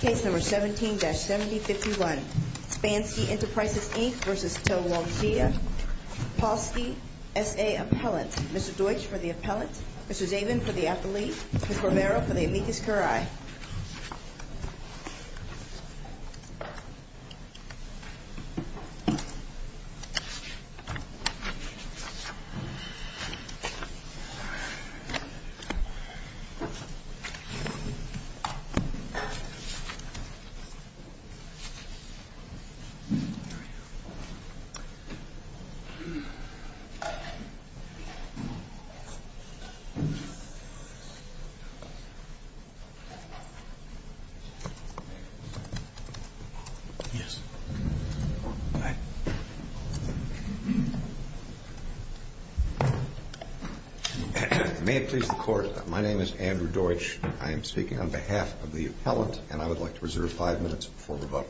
Case number 17-7051, Spanski Enterprises, Inc. versus Toluansia. Polsky, S.A. Appellant. Mr. Deutsch for the appellant. Mr. Zabin for the appellee. Ms. Romero for the amicus curiae. May it please the Court. My name is Andrew Deutsch. I am speaking on behalf of the appellant, and I would like to reserve five minutes before the vote.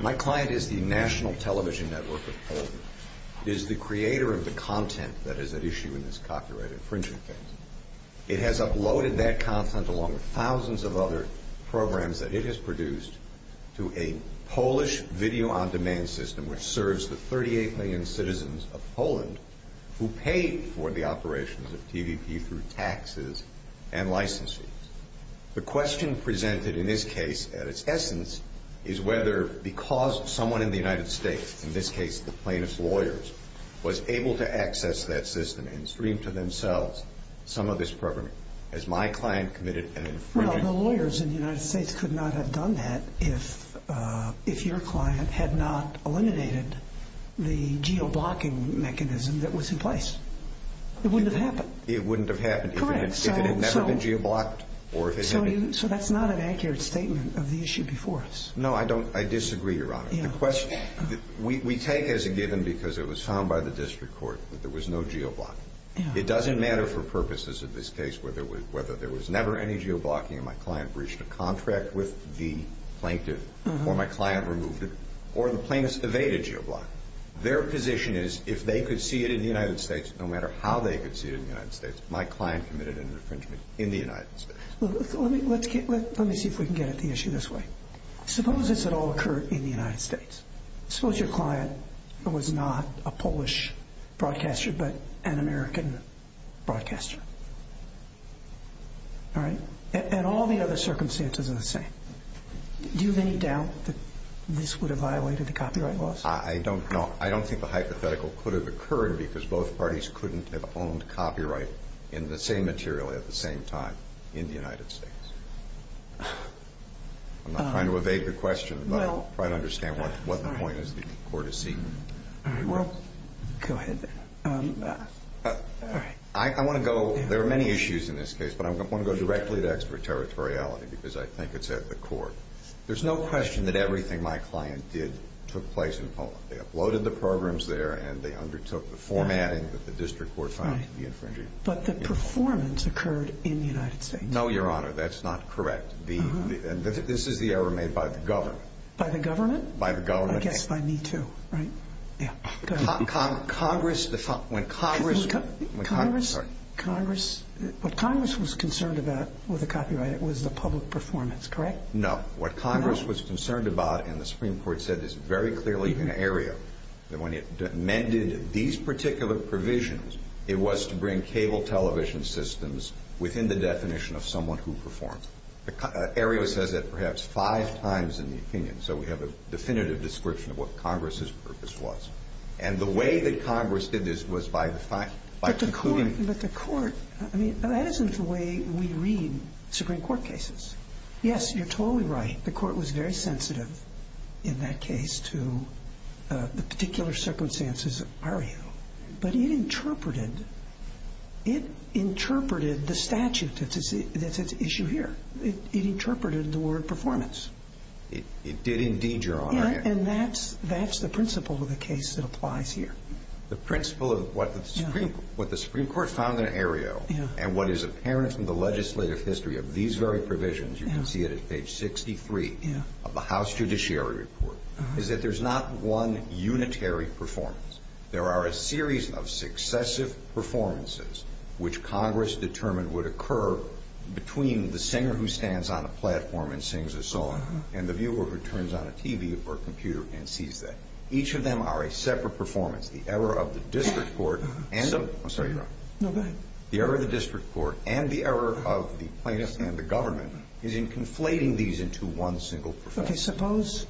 My client is the National Television Network of Poland. It is the creator of the content that is at issue in this copyright infringement case. It has uploaded that content, along with thousands of other programs that it has produced, to a Polish video-on-demand system which serves the 38 million citizens of Poland who pay for the operations of TVP through taxes and licenses. The question presented in this case, at its essence, is whether because someone in the United States, in this case the plaintiff's lawyers, was able to access that system and stream to themselves some of this program, has my client committed an infringement? Well, the lawyers in the United States could not have done that if your client had not eliminated the geo-blocking mechanism that was in place. It wouldn't have happened. It wouldn't have happened if it had never been geo-blocked. So that's not an accurate statement of the issue before us. No, I disagree, Your Honor. We take as a given, because it was found by the district court, that there was no geo-blocking. It doesn't matter for purposes of this case whether there was never any geo-blocking and my client breached a contract with the plaintiff, or my client removed it, or the plaintiff evaded geo-blocking. Their position is if they could see it in the United States, no matter how they could see it in the United States, my client committed an infringement in the United States. Let me see if we can get at the issue this way. Suppose this had all occurred in the United States. Suppose your client was not a Polish broadcaster but an American broadcaster. And all the other circumstances are the same. Do you have any doubt that this would have violated the copyright laws? I don't think the hypothetical could have occurred because both parties couldn't have owned copyright in the same material at the same time in the United States. I'm not trying to evade the question, but I'm trying to understand what the point is the court is seeking. All right. Well, go ahead. I want to go, there are many issues in this case, but I want to go directly to extraterritoriality because I think it's at the core. There's no question that everything my client did took place in Poland. They uploaded the programs there and they undertook the formatting that the district court found to be infringing. But the performance occurred in the United States. No, Your Honor, that's not correct. This is the error made by the government. By the government? By the government. I guess by me too, right? Yeah. Congress, when Congress... Congress, what Congress was concerned about with the copyright, it was the public performance, correct? No. What Congress was concerned about, and the Supreme Court said this very clearly in the area, that when it amended these particular provisions, it was to bring cable television systems within the definition of someone who performed. The area says that perhaps five times in the opinion, so we have a definitive description of what Congress's purpose was. And the way that Congress did this was by concluding... But the court, I mean, that isn't the way we read Supreme Court cases. Yes, you're totally right. The court was very sensitive in that case to the particular circumstances of Mario, but it interpreted the statute that's at issue here. It interpreted the word performance. It did indeed, Your Honor. Yeah, and that's the principle of the case that applies here. The principle of what the Supreme Court found in Aereo and what is apparent from the legislative history of these very provisions, you can see it at page 63 of the House Judiciary Report, is that there's not one unitary performance. There are a series of successive performances which Congress determined would occur between the singer who stands on a platform and sings a song and the viewer who turns on a TV or computer and sees that. Each of them are a separate performance. The error of the district court and... I'm sorry, Your Honor. No, go ahead. The error of the district court and the error of the plaintiffs and the government is in conflating these into one single performance. Okay, suppose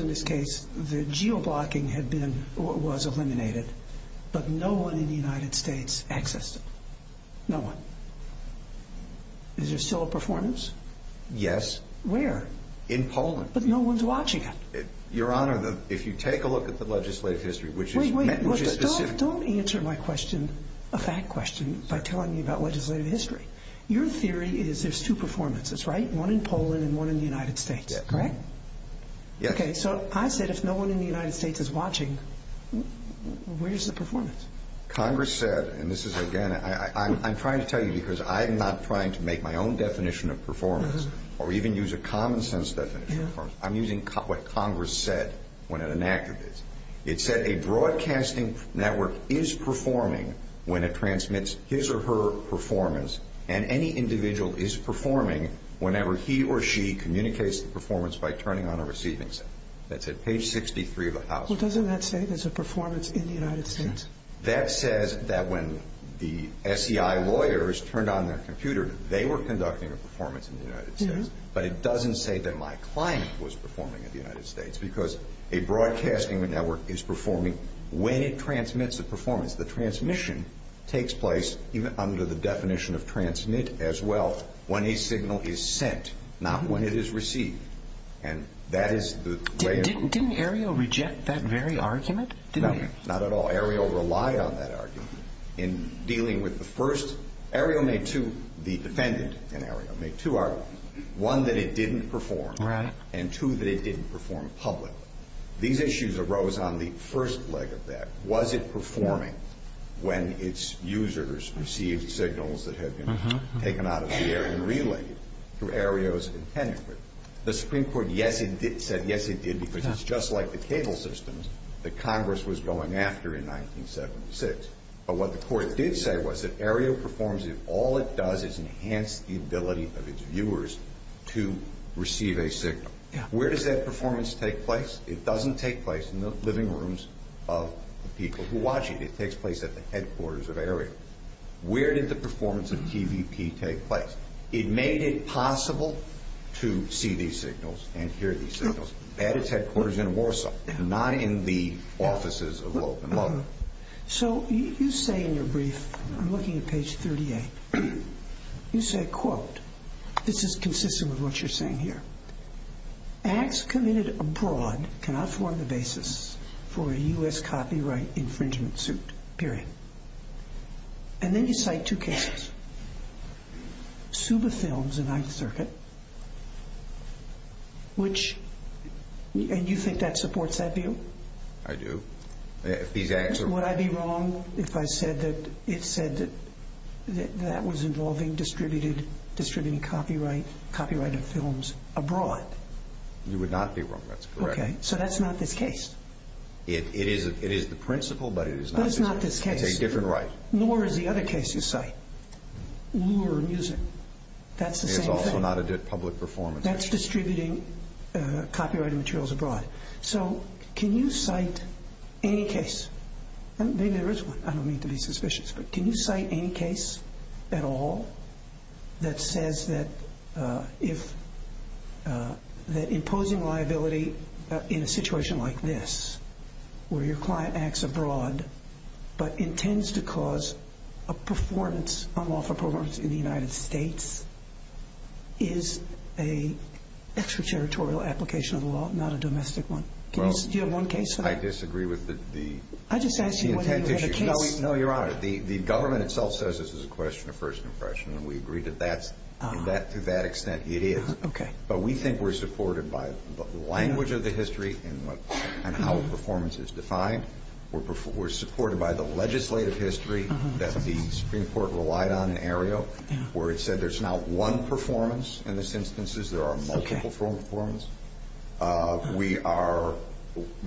in this case the geo-blocking was eliminated, but no one in the United States accessed it. No one. Is there still a performance? Yes. Where? In Poland. But no one's watching it. Your Honor, if you take a look at the legislative history, which is... Wait, wait. Don't answer my question, a fact question, by telling me about legislative history. Your theory is there's two performances, right? One in Poland and one in the United States, correct? Yes. Okay, so I said if no one in the United States is watching, where's the performance? Congress said, and this is, again, I'm trying to tell you because I'm not trying to make my own definition of performance or even use a common sense definition of performance. I'm using what Congress said when it enacted this. It said a broadcasting network is performing when it transmits his or her performance and any individual is performing whenever he or she communicates the performance by turning on a receiving center. That's at page 63 of the House. Well, doesn't that say there's a performance in the United States? That says that when the SEI lawyers turned on their computer, they were conducting a performance in the United States. But it doesn't say that my client was performing in the United States because a broadcasting network is performing when it transmits a performance. The transmission takes place under the definition of transmit as well when a signal is sent, not when it is received. And that is the way it is. Didn't Aereo reject that very argument? No, not at all. Aereo relied on that argument in dealing with the first. Aereo made two, the defendant in Aereo made two arguments, one that it didn't perform and two that it didn't perform publicly. These issues arose on the first leg of that. Was it performing when its users received signals that had been taken out of the air and relayed through Aereo's intended? The Supreme Court, yes, it did, said yes, it did, because it's just like the cable systems that Congress was going after in 1976. But what the Court did say was that Aereo performs if all it does is enhance the ability of its viewers to receive a signal. Where does that performance take place? It doesn't take place in the living rooms of the people who watch it. It takes place at the headquarters of Aereo. Where did the performance of TVP take place? It made it possible to see these signals and hear these signals at its headquarters in Warsaw, not in the offices of Loeb and Loeb. So you say in your brief, I'm looking at page 38, you say, quote, this is consistent with what you're saying here, acts committed abroad cannot form the basis for a U.S. copyright infringement suit, period. And then you cite two cases. Suba Films in 9th Circuit, which, and you think that supports that view? I do. Would I be wrong if I said that it said that that was involving distributing copyrighted films abroad? You would not be wrong. That's correct. Okay. So that's not this case? It is the principle, but it is not this case. But it's not this case. It's a different right. Nor is the other case you cite, lure music. That's the same thing. It's also not a public performance. That's distributing copyrighted materials abroad. So can you cite any case? Maybe there is one. I don't mean to be suspicious. But can you cite any case at all that says that imposing liability in a situation like this, where your client acts abroad but intends to cause a performance, unlawful performance in the United States, is an extraterritorial application of the law, not a domestic one? Do you have one case? I disagree with the intent issue. No, Your Honor. The government itself says this is a question of first impression, and we agree that to that extent it is. Okay. But we think we're supported by the language of the history and how a performance is defined. We're supported by the legislative history that the Supreme Court relied on in Aereo, where it said there's not one performance in this instances. There are multiple performances. We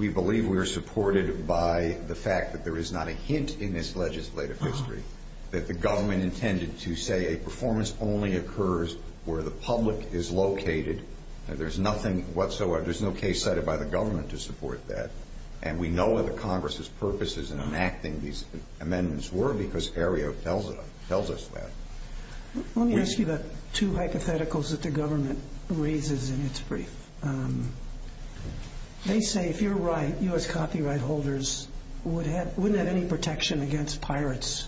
believe we are supported by the fact that there is not a hint in this legislative history that the government intended to say a performance only occurs where the public is located. There's nothing whatsoever. There's no case cited by the government to support that. And we know what the Congress's purposes in enacting these amendments were because Aereo tells us that. Let me ask you about two hypotheticals that the government raises in its brief. They say if you're right, U.S. copyright holders wouldn't have any protection against pirates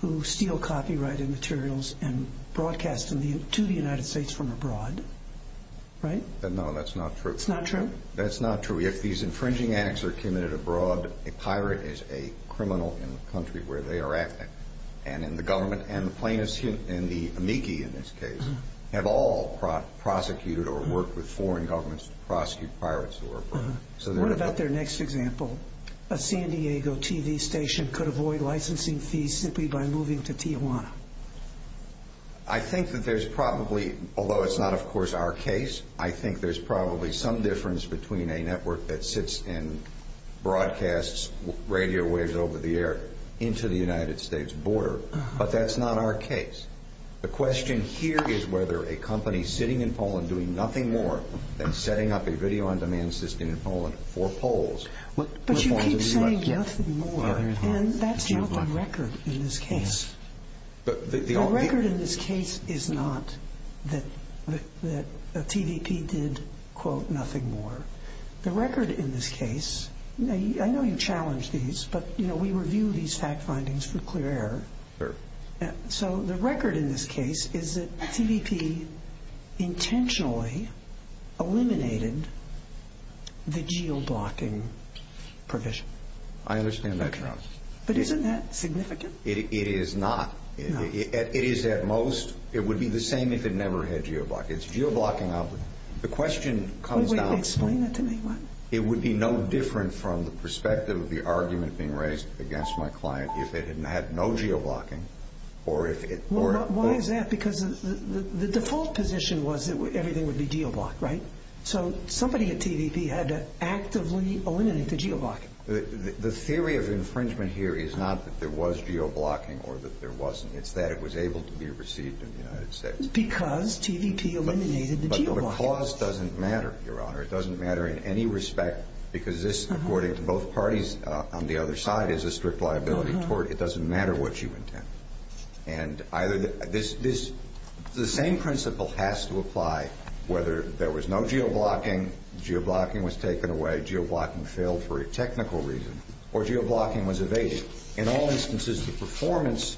who steal copyrighted materials and broadcast to the United States from abroad, right? No, that's not true. That's not true? That's not true. If these infringing acts are committed abroad, a pirate is a criminal in the country where they are acting, and the government and the plaintiffs in the amici in this case have all prosecuted or worked with foreign governments to prosecute pirates who are abroad. What about their next example? A San Diego TV station could avoid licensing fees simply by moving to Tijuana. I think that there's probably, although it's not, of course, our case, I think there's probably some difference between a network that sits and broadcasts radio waves over the air into the United States border, but that's not our case. The question here is whether a company sitting in Poland doing nothing more than setting up a video-on-demand system in Poland for polls. But you keep saying, yes, more, and that's not the record in this case. The record in this case is not that TVP did, quote, nothing more. The record in this case, I know you challenge these, but, you know, we review these fact findings for clear air. So the record in this case is that TVP intentionally eliminated the geo-blocking provision. I understand that, Your Honor. But isn't that significant? It is not. It is at most, it would be the same if it never had geo-blocking. It's geo-blocking, the question comes down. Wait, explain that to me. It would be no different from the perspective of the argument being raised against my client if it had no geo-blocking or if it were. Why is that? Because the default position was that everything would be geo-blocked, right? So somebody at TVP had to actively eliminate the geo-blocking. The theory of infringement here is not that there was geo-blocking or that there wasn't. It's that it was able to be received in the United States. Because TVP eliminated the geo-blocking. But the clause doesn't matter, Your Honor. It doesn't matter in any respect because this, according to both parties on the other side, is a strict liability tort. It doesn't matter what you intend. And either this, the same principle has to apply whether there was no geo-blocking, geo-blocking was taken away, geo-blocking failed for a technical reason, or geo-blocking was evaded. In all instances, the performance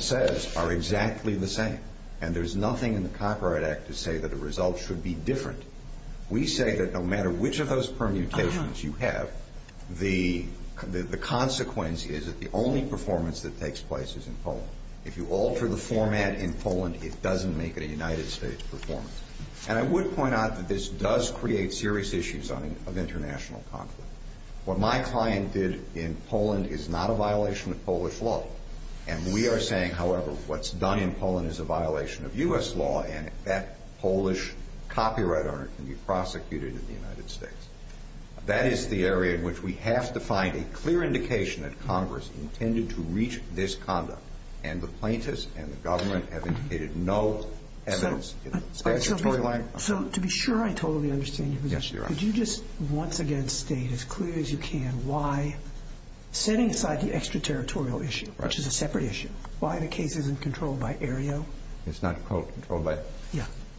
says are exactly the same. And there's nothing in the Copyright Act to say that the results should be different. We say that no matter which of those permutations you have, the consequence is that the only performance that takes place is in Poland. If you alter the format in Poland, it doesn't make it a United States performance. And I would point out that this does create serious issues of international conflict. What my client did in Poland is not a violation of Polish law. And we are saying, however, what's done in Poland is a violation of U.S. law, and that Polish copyright owner can be prosecuted in the United States. That is the area in which we have to find a clear indication that Congress intended to reach this conduct. And the plaintiffs and the government have indicated no evidence in the statutory language. So to be sure I totally understand your position. Yes, Your Honor. Could you just once again state as clear as you can why, setting aside the extraterritorial issue, which is a separate issue, why the case isn't controlled by Aereo? It's not, quote, controlled by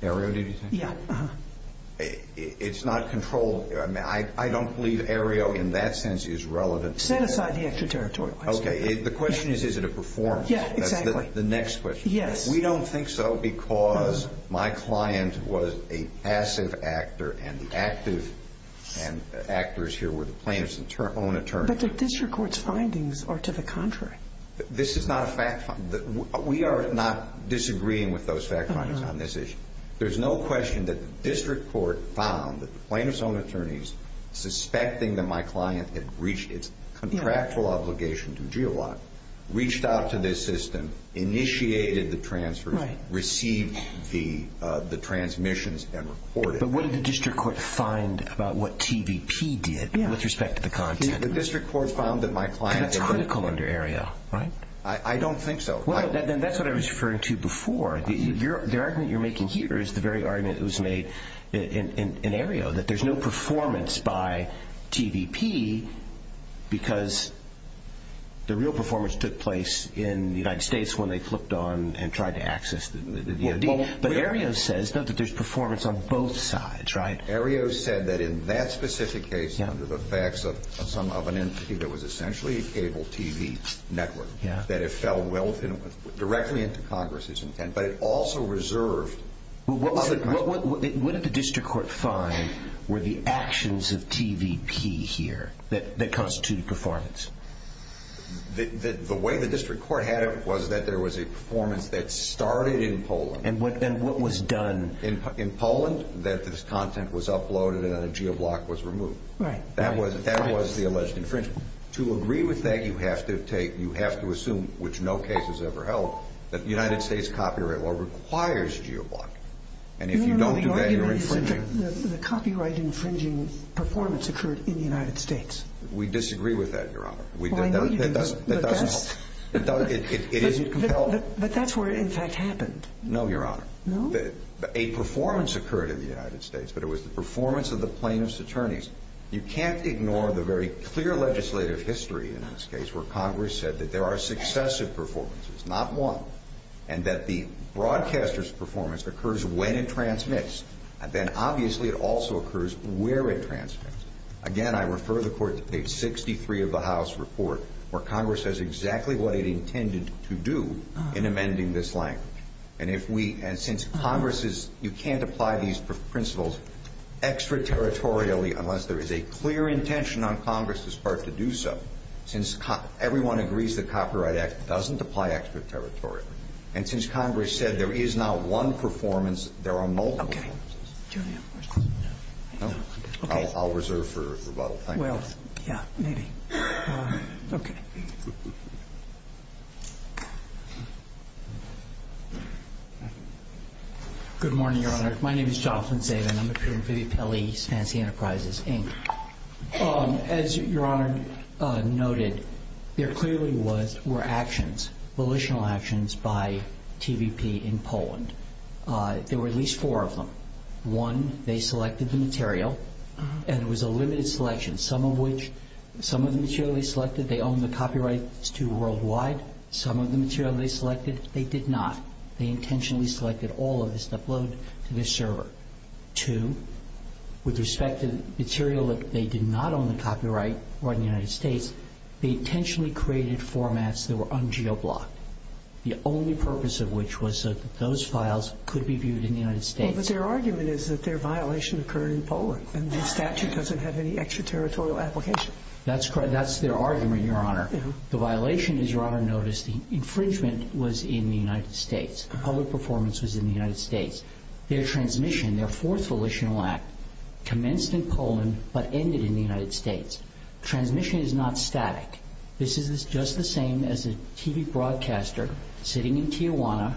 Aereo, did you say? Yeah. It's not controlled. I mean, I don't believe Aereo in that sense is relevant. Set aside the extraterritorial. Okay. The question is, is it a performance? Yeah, exactly. That's the next question. Yes. We don't think so because my client was a passive actor, and the active actors here were the plaintiffs' own attorneys. But the district court's findings are to the contrary. This is not a fact find. We are not disagreeing with those fact findings on this issue. There's no question that the district court found that the plaintiffs' own attorneys, suspecting that my client had reached its contractual obligation to GEOOC, reached out to this system, initiated the transfer, received the transmissions, and reported. Okay. But what did the district court find about what TVP did with respect to the content? The district court found that my client. That's critical under Aereo, right? I don't think so. Then that's what I was referring to before. The argument you're making here is the very argument that was made in Aereo, that there's no performance by TVP because the real performance took place in the United States when they flipped on and tried to access the DOD. But Aereo says that there's performance on both sides, right? Aereo said that in that specific case, under the facts of some of an entity that was essentially a cable TV network, that it fell directly into Congress's intent, but it also reserved. What did the district court find were the actions of TVP here that constituted performance? The way the district court had it was that there was a performance that started in Poland. And what was done? In Poland, that this content was uploaded and a geoblock was removed. Right. That was the alleged infringement. To agree with that, you have to assume, which no case has ever held, that the United States copyright law requires geoblocking. And if you don't do that, you're infringing. The copyright infringing performance occurred in the United States. We disagree with that, Your Honor. That doesn't help. It isn't compelling. But that's where it, in fact, happened. No, Your Honor. No? A performance occurred in the United States, but it was the performance of the plaintiff's attorneys. You can't ignore the very clear legislative history in this case where Congress said that there are successive performances, not one, and that the broadcaster's performance occurs when it transmits. Then, obviously, it also occurs where it transmits. Again, I refer the court to page 63 of the House report, where Congress says exactly what it intended to do in amending this language. And if we, and since Congress is, you can't apply these principles extraterritorially unless there is a clear intention on Congress's part to do so, since everyone agrees the Copyright Act doesn't apply extraterritorially. And since Congress said there is not one performance, there are multiple. Okay. Do you have a question? No. Okay. I'll reserve for rebuttal. Thank you. Well, yeah, maybe. Okay. Good morning, Your Honor. My name is Jonathan Sabin. I'm a peer in Vivi Pelli, Fancy Enterprises, Inc. As Your Honor noted, there clearly were actions, volitional actions, by TVP in Poland. There were at least four of them. One, they selected the material, and it was a limited selection. Some of which, some of the material they selected, they owned the copyrights to worldwide. Some of the material they selected, they did not. They intentionally selected all of this to upload to their server. Two, with respect to material that they did not own the copyright or in the United States, they intentionally created formats that were un-geoblocked, the only purpose of which was so that those files could be viewed in the United States. Well, but their argument is that their violation occurred in Poland, and their statute doesn't have any extraterritorial application. That's correct. That's their argument, Your Honor. The violation, as Your Honor noticed, the infringement was in the United States. The public performance was in the United States. Their transmission, their fourth volitional act, commenced in Poland but ended in the United States. Transmission is not static. This is just the same as a TV broadcaster sitting in Tijuana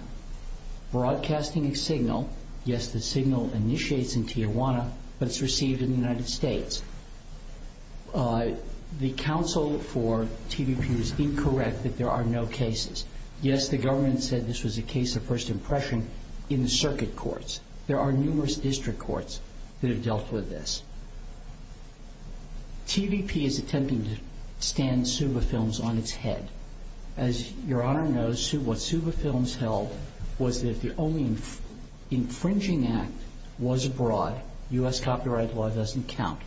broadcasting a signal. Yes, the signal initiates in Tijuana, but it's received in the United States. The counsel for TVP was incorrect that there are no cases. Yes, the government said this was a case of first impression in the circuit courts. There are numerous district courts that have dealt with this. TVP is attempting to stand Suba Films on its head. As Your Honor knows, what Suba Films held was that the only infringing act was abroad. U.S. copyright law doesn't count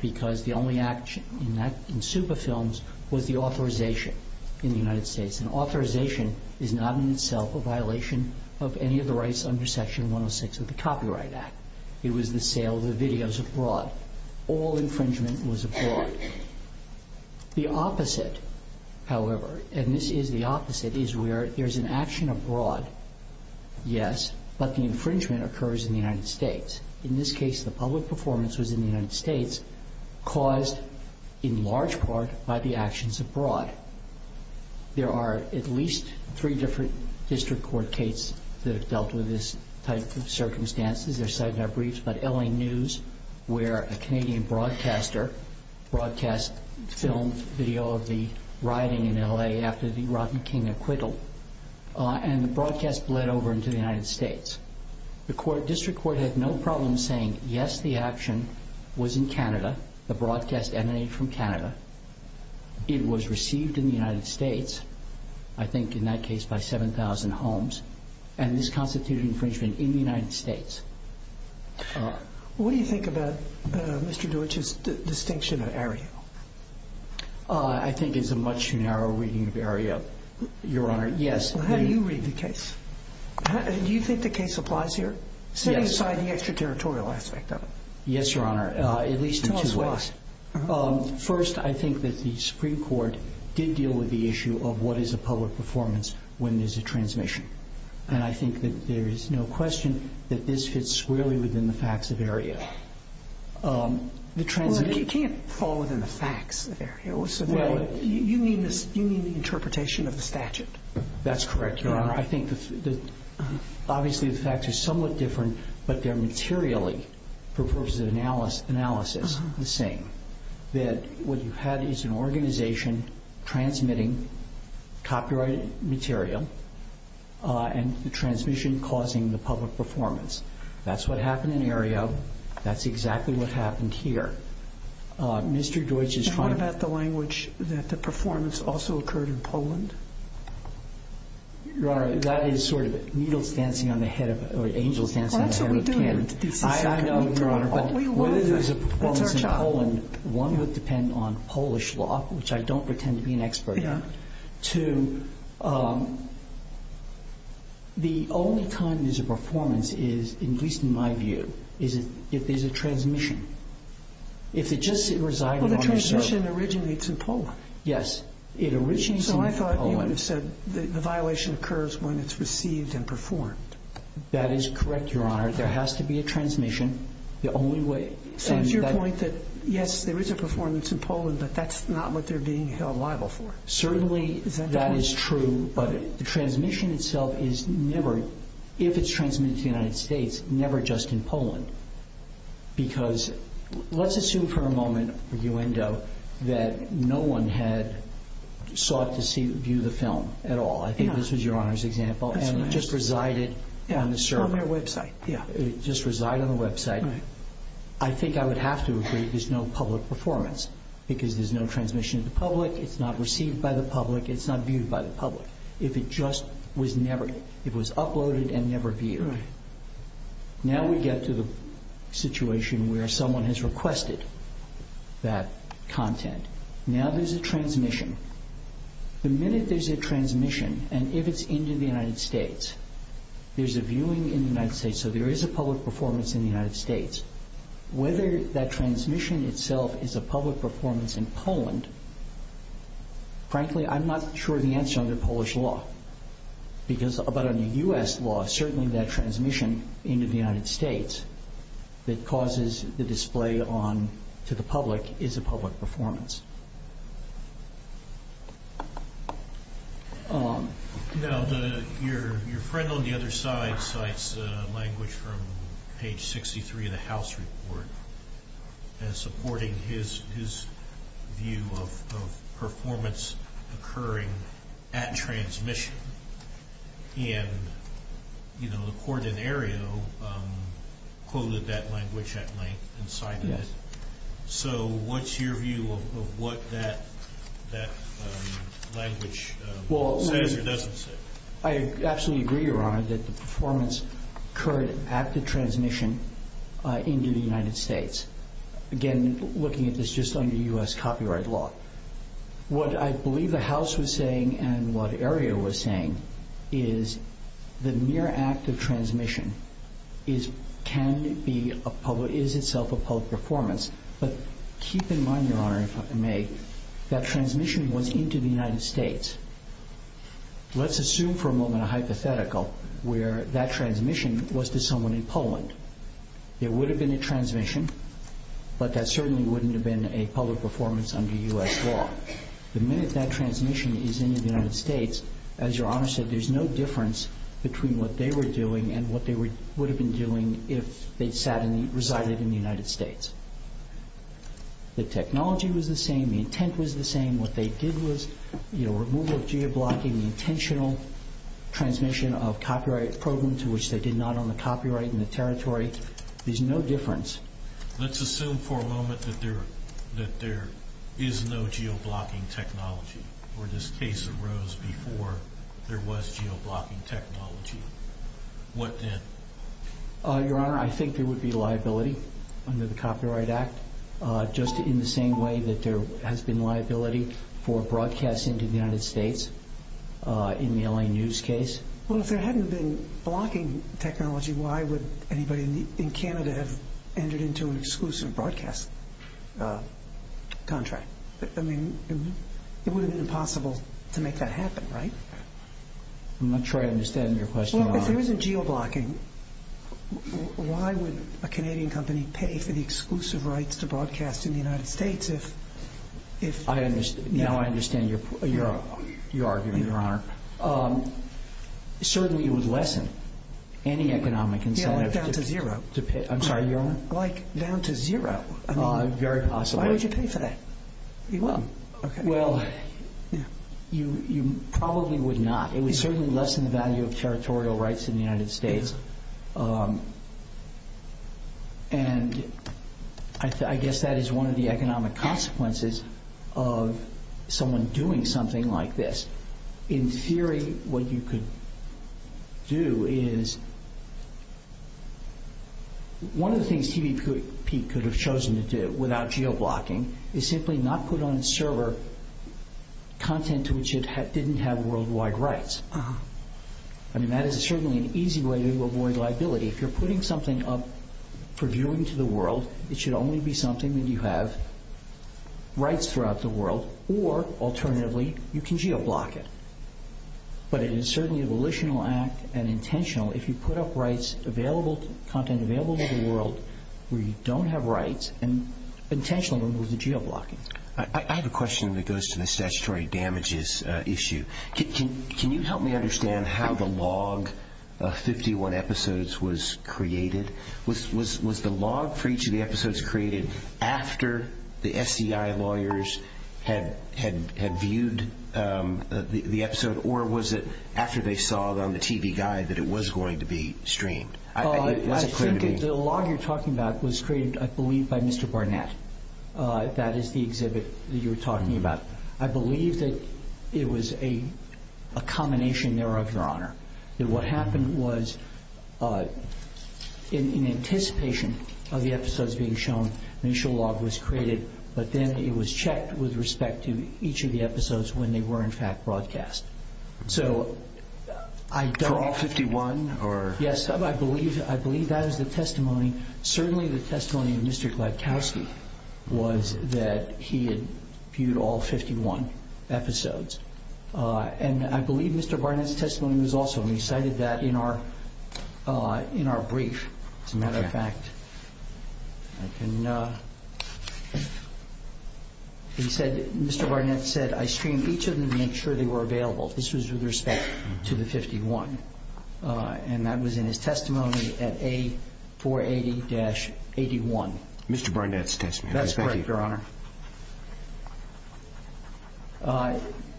because the only act in Suba Films was the authorization in the United States, and authorization is not in itself a violation of any of the rights under Section 106 of the Copyright Act. It was the sale of the videos abroad. All infringement was abroad. The opposite, however, and this is the opposite, is where there's an action abroad, yes, but the infringement occurs in the United States. In this case, the public performance was in the United States, caused in large part by the actions abroad. There are at least three different district court cases that have dealt with this type of circumstance. They're cited in our briefs, but L.A. News, where a Canadian broadcaster broadcast filmed video of the rioting in L.A. after the Rotten King acquittal, and the broadcast bled over into the United States. The district court had no problem saying, yes, the action was in Canada. The broadcast emanated from Canada. It was received in the United States, I think in that case by 7,000 homes, and this constituted infringement in the United States. What do you think about Mr. Deutsch's distinction of aerial? I think it's a much too narrow reading of aerial, Your Honor. Yes. How do you read the case? Do you think the case applies here? Yes. Setting aside the extraterritorial aspect of it. Yes, Your Honor, at least in two ways. Tell us why. First, I think that the Supreme Court did deal with the issue of what is a public performance when there's a transmission. And I think that there is no question that this fits squarely within the facts of aerial. You can't fall within the facts of aerial. You need the interpretation of the statute. That's correct, Your Honor. Obviously the facts are somewhat different, but they're materially, for purposes of analysis, the same. That what you had is an organization transmitting copyrighted material and the transmission causing the public performance. That's what happened in aerial. That's exactly what happened here. And what about the language that the performance also occurred in Poland? Your Honor, that is sort of needles dancing on the head or angels dancing on the head of a can. That's what we do. I know, Your Honor, but whether there's a performance in Poland, one would depend on Polish law, which I don't pretend to be an expert on, to the only time there's a performance is, at least in my view, is if there's a transmission. If it just resides on the surface. Well, the transmission originates in Poland. Yes, it originates in Poland. So I thought you would have said the violation occurs when it's received and performed. That is correct, Your Honor. There has to be a transmission. The only way. So it's your point that, yes, there is a performance in Poland, but that's not what they're being held liable for? Certainly that is true, but the transmission itself is never, if it's transmitted to the United States, never just in Poland. Because let's assume for a moment that no one had sought to view the film at all. I think this was Your Honor's example, and it just resided on the surface. From their website. It just resided on the website. I think I would have to agree there's no public performance because there's no transmission to the public. It's not received by the public. It's not viewed by the public. If it just was uploaded and never viewed. Now we get to the situation where someone has requested that content. Now there's a transmission. The minute there's a transmission, and if it's into the United States, there's a viewing in the United States, so there is a public performance in the United States. Whether that transmission itself is a public performance in Poland, frankly, I'm not sure the answer under Polish law. But under U.S. law, certainly that transmission into the United States that causes the display to the public is a public performance. Your friend on the other side cites language from page 63 of the House report as supporting his view of performance occurring at transmission. The court in Aereo quoted that language at length and cited it. So what's your view of what that language says or doesn't say? I absolutely agree, Your Honor, that the performance occurred at the transmission into the United States. Again, looking at this just under U.S. copyright law. What I believe the House was saying and what Aereo was saying is the mere act of transmission can be a public, is itself a public performance. But keep in mind, Your Honor, if I may, that transmission was into the United States. Let's assume for a moment a hypothetical where that transmission was to someone in Poland. There would have been a transmission, but that certainly wouldn't have been a public performance under U.S. law. The minute that transmission is into the United States, as Your Honor said, there's no difference between what they were doing and what they would have been doing if they'd sat and resided in the United States. The technology was the same. The intent was the same. What they did was removal of geoblocking, the intentional transmission of copyright program to which they did not own the copyright in the territory. There's no difference. Let's assume for a moment that there is no geoblocking technology or this case arose before there was geoblocking technology. What then? Your Honor, I think there would be liability under the Copyright Act just in the same way that there has been liability for broadcasting to the United States in the L.A. News case. Well, if there hadn't been blocking technology, why would anybody in Canada have entered into an exclusive broadcast contract? I mean, it would have been impossible to make that happen, right? If there isn't geoblocking, why would a Canadian company pay for the exclusive rights to broadcast in the United States? Now I understand your argument, Your Honor. Certainly it would lessen any economic incentive. Yeah, like down to zero. I'm sorry, Your Honor? Like down to zero. Very possible. Why would you pay for that? Well, you probably would not. It would certainly lessen the value of territorial rights in the United States. And I guess that is one of the economic consequences of someone doing something like this. In theory, what you could do is, one of the things TVP could have chosen to do without geoblocking is simply not put on its server content to which it didn't have worldwide rights. I mean, that is certainly an easy way to avoid liability. If you're putting something up for viewing to the world, it should only be something that you have rights throughout the world. Or, alternatively, you can geoblock it. But it is certainly a volitional act and intentional. If you put up rights, content available to the world where you don't have rights, then intentionally it was a geoblocking. I have a question that goes to the statutory damages issue. Can you help me understand how the log of 51 episodes was created? Was the log for each of the episodes created after the SCI lawyers had viewed the episode, or was it after they saw it on the TV Guide that it was going to be streamed? The log you're talking about was created, I believe, by Mr. Barnett. That is the exhibit that you're talking about. I believe that it was a combination thereof, Your Honor. What happened was, in anticipation of the episodes being shown, an initial log was created, but then it was checked with respect to each of the episodes when they were in fact broadcast. For all 51? Yes, I believe that is the testimony. Certainly the testimony of Mr. Gladkowski was that he had viewed all 51 episodes. And I believe Mr. Barnett's testimony was also. We cited that in our brief. As a matter of fact, Mr. Barnett said, I streamed each of them to make sure they were available. This was with respect to the 51. And that was in his testimony at A480-81. Mr. Barnett's testimony. That's correct, Your Honor.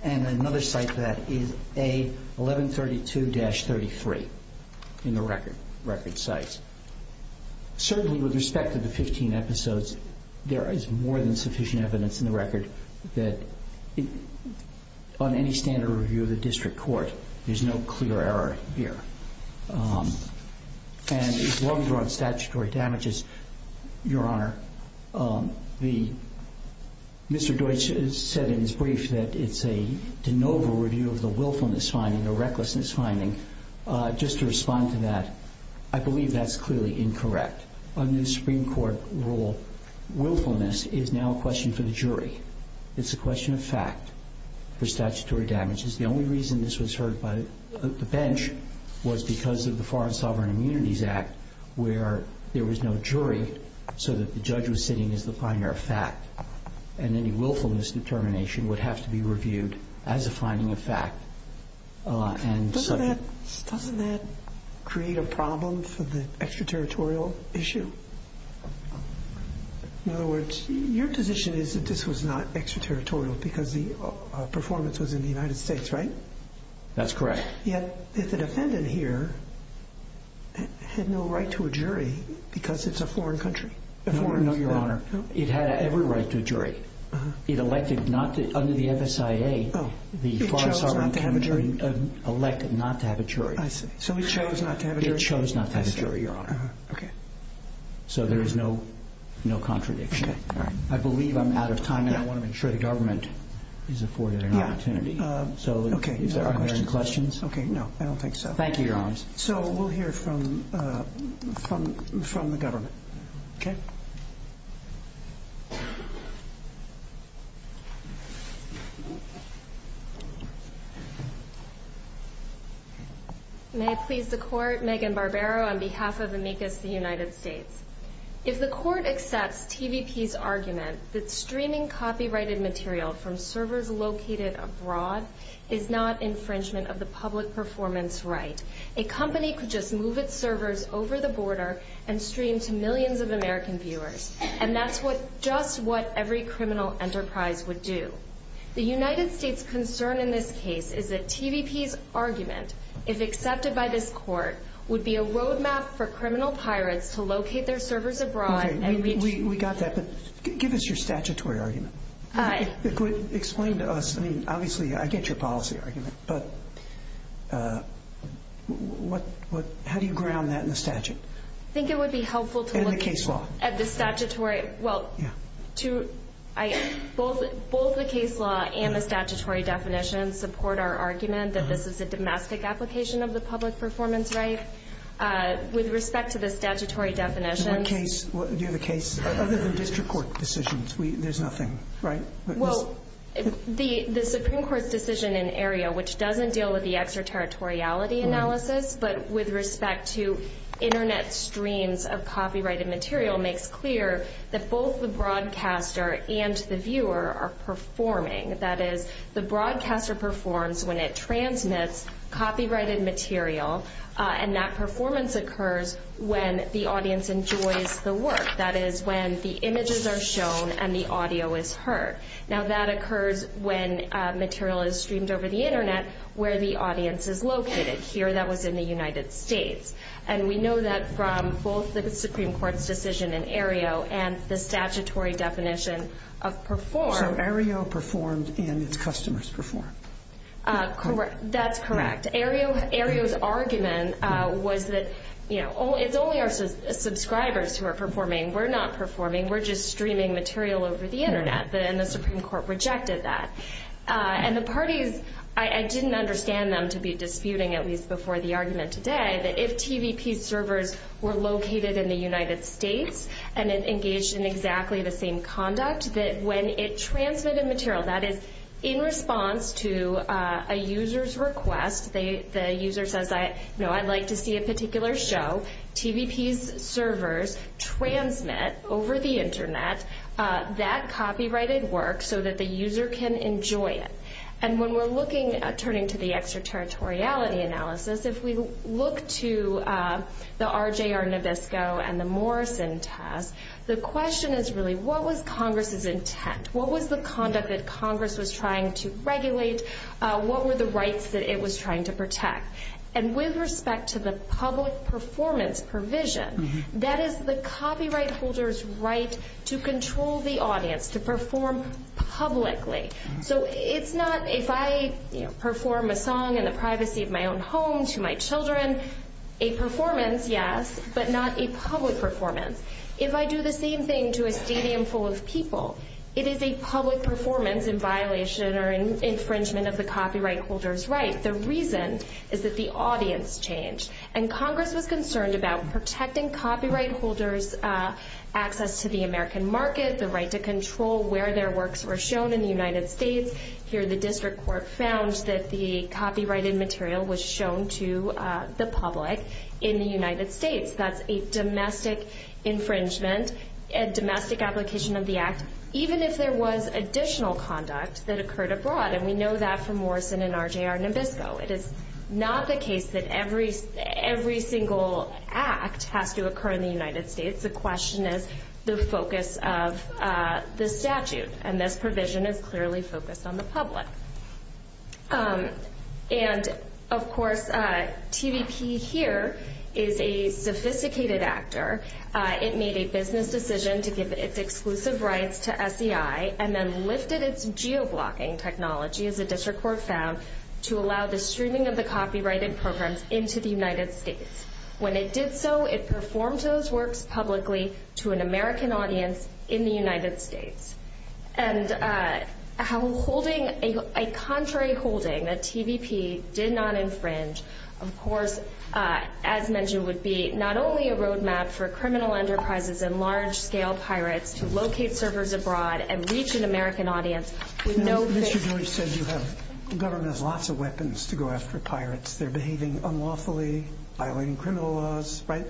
And another site for that is A1132-33 in the record sites. Certainly with respect to the 15 episodes, there is more than sufficient evidence in the record that, on any standard review of the district court, there's no clear error here. And as long as we're on statutory damages, Your Honor, Mr. Deutsch said in his brief that it's a de novo review of the willfulness finding, the recklessness finding. Just to respond to that, I believe that's clearly incorrect. Under the Supreme Court rule, willfulness is now a question for the jury. It's a question of fact for statutory damages. The only reason this was heard by the bench was because of the Foreign Sovereign Immunities Act, where there was no jury so that the judge was sitting as the finder of fact. And any willfulness determination would have to be reviewed as a finding of fact. Doesn't that create a problem for the extraterritorial issue? In other words, your position is that this was not extraterritorial because the performance was in the United States, right? That's correct. Yet the defendant here had no right to a jury because it's a foreign country? No, Your Honor. It had every right to a jury. It elected not to. Under the FSIA, the foreign sovereign can elect not to have a jury. I see. So he chose not to have a jury? He chose not to have a jury, Your Honor. So there is no contradiction. I believe I'm out of time, and I want to make sure the government is afforded an opportunity. Okay. So are there any questions? Okay, no. I don't think so. Thank you, Your Honors. So we'll hear from the government. Okay? May it please the Court, Megan Barbero on behalf of Amicus, the United States. from servers located abroad is not infringement of the public performance right. A company could just move its servers over the border and stream to millions of American viewers, and that's just what every criminal enterprise would do. The United States' concern in this case is that TVP's argument, if accepted by this Court, would be a roadmap for criminal pirates to locate their servers abroad and reach— Okay, we got that, but give us your statutory argument. Explain to us. I mean, obviously, I get your policy argument, but how do you ground that in the statute? I think it would be helpful to look— And the case law. At the statutory—well, both the case law and the statutory definition support our argument that this is a domestic application of the public performance right with respect to the statutory definition. Do you have a case? Other than district court decisions, there's nothing, right? Well, the Supreme Court's decision in Aereo, which doesn't deal with the extraterritoriality analysis, but with respect to Internet streams of copyrighted material, makes clear that both the broadcaster and the viewer are performing. That is, the broadcaster performs when it transmits copyrighted material, and that performance occurs when the audience enjoys the work. That is, when the images are shown and the audio is heard. Now, that occurs when material is streamed over the Internet where the audience is located. Here, that was in the United States. And we know that from both the Supreme Court's decision in Aereo and the statutory definition of perform— So Aereo performed and its customers performed. That's correct. Aereo's argument was that, you know, it's only our subscribers who are performing. We're not performing. We're just streaming material over the Internet. And the Supreme Court rejected that. And the parties, I didn't understand them to be disputing, at least before the argument today, that if TVP servers were located in the United States and engaged in exactly the same conduct, that when it transmitted material, that is, in response to a user's request, the user says, you know, I'd like to see a particular show, TVP's servers transmit over the Internet that copyrighted work so that the user can enjoy it. And when we're looking at turning to the extraterritoriality analysis, if we look to the RJR Nabisco and the Morrison test, the question is really what was Congress's intent? What was the conduct that Congress was trying to regulate? What were the rights that it was trying to protect? And with respect to the public performance provision, that is the copyright holder's right to control the audience, to perform publicly. So it's not if I perform a song in the privacy of my own home to my children, a performance, yes, but not a public performance. If I do the same thing to a stadium full of people, it is a public performance in violation or infringement of the copyright holder's right. The reason is that the audience changed. And Congress was concerned about protecting copyright holders' access to the American market, the right to control where their works were shown in the United States. Here the district court found that the copyrighted material was shown to the public in the United States. That's a domestic infringement, a domestic application of the act, even if there was additional conduct that occurred abroad, and we know that from Morrison and RJR Nabisco. It is not the case that every single act has to occur in the United States. The question is the focus of the statute, and this provision is clearly focused on the public. And, of course, TVP here is a sophisticated actor. It made a business decision to give its exclusive rights to SEI and then lifted its geoblocking technology, as the district court found, to allow the streaming of the copyrighted programs into the United States. When it did so, it performed those works publicly to an American audience in the United States. And a contrary holding that TVP did not infringe, of course, as mentioned, would be not only a road map for criminal enterprises and large-scale pirates to locate servers abroad and reach an American audience. Mr. George said the government has lots of weapons to go after pirates. They're behaving unlawfully, violating criminal laws, right?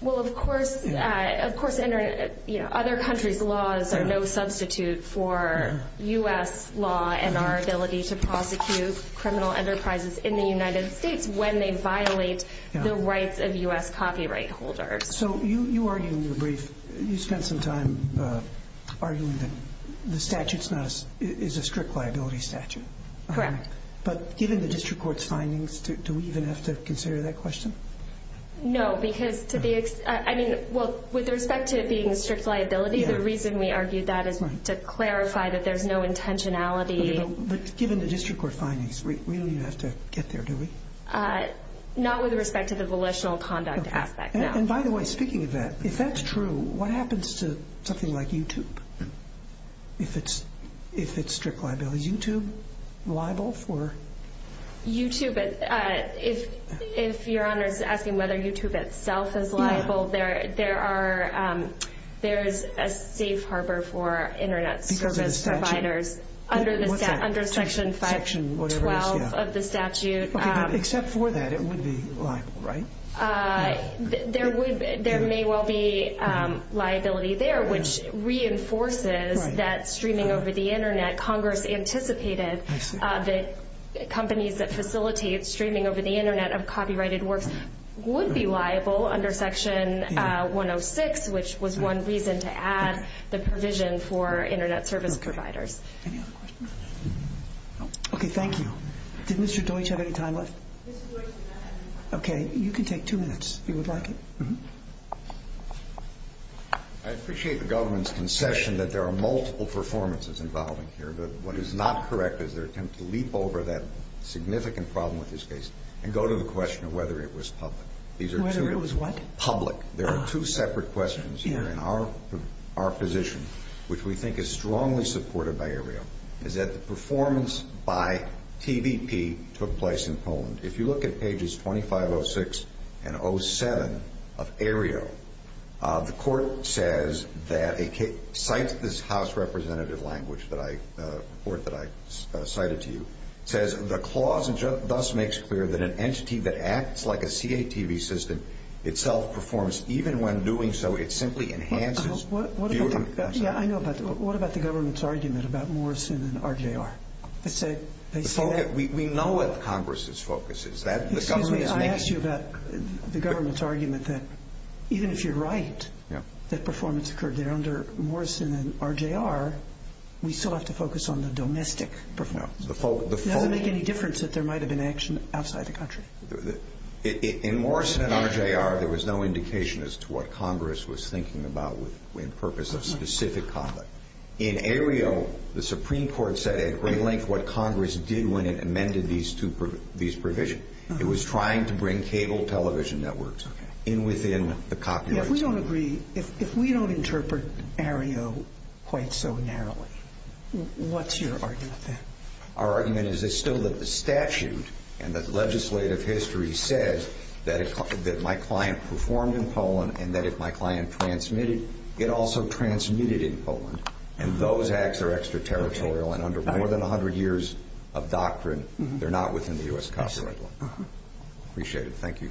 Well, of course, other countries' laws are no substitute for U.S. law and our ability to prosecute criminal enterprises in the United States when they violate the rights of U.S. copyright holders. So you argued in your brief, you spent some time arguing that the statute is a strict liability statute. Correct. But given the district court's findings, do we even have to consider that question? No, because to the extent, I mean, well, with respect to it being a strict liability, the reason we argued that is to clarify that there's no intentionality. But given the district court findings, we don't even have to get there, do we? Not with respect to the volitional conduct aspect, no. And by the way, speaking of that, if that's true, what happens to something like YouTube if it's strict liability? Is YouTube liable for...? YouTube, if Your Honor is asking whether YouTube itself is liable, there's a safe harbor for Internet service providers under Section 512 of the statute. Except for that, it would be liable, right? There may well be liability there, which reinforces that streaming over the Internet, Congress anticipated that companies that facilitate streaming over the Internet of copyrighted works would be liable under Section 106, which was one reason to add the provision for Internet service providers. Any other questions? Okay, thank you. Did Mr. Deutsch have any time left? Okay, you can take two minutes if you would like. I appreciate the government's concession that there are multiple performances involving here, but what is not correct is their attempt to leap over that significant problem with this case and go to the question of whether it was public. Whether it was what? Public. There are two separate questions here in our position, which we think is strongly supported by Ariel, is that the performance by TVP took place in Poland. If you look at pages 2506 and 07 of Ariel, the Court says that it cites this House representative language that I cited to you. It says, The clause thus makes clear that an entity that acts like a CATV system itself performs, even when doing so, it simply enhances. I know, but what about the government's argument about Morrison and RJR? We know what Congress's focus is. Excuse me, I asked you about the government's argument that even if you're right, that performance occurred there under Morrison and RJR, we still have to focus on the domestic performance. It doesn't make any difference that there might have been action outside the country. In Morrison and RJR, there was no indication as to what Congress was thinking about in purpose of specific conduct. In Ariel, the Supreme Court said at great length what Congress did when it amended these two provisions. It was trying to bring cable television networks in within the copyrights. If we don't agree, if we don't interpret Ariel quite so narrowly, what's your argument then? Our argument is still that the statute and the legislative history says that my client performed in Poland and that if my client transmitted, it also transmitted in Poland, and those acts are extraterritorial and under more than 100 years of doctrine, they're not within the U.S. copyright law. Appreciate it. Thank you.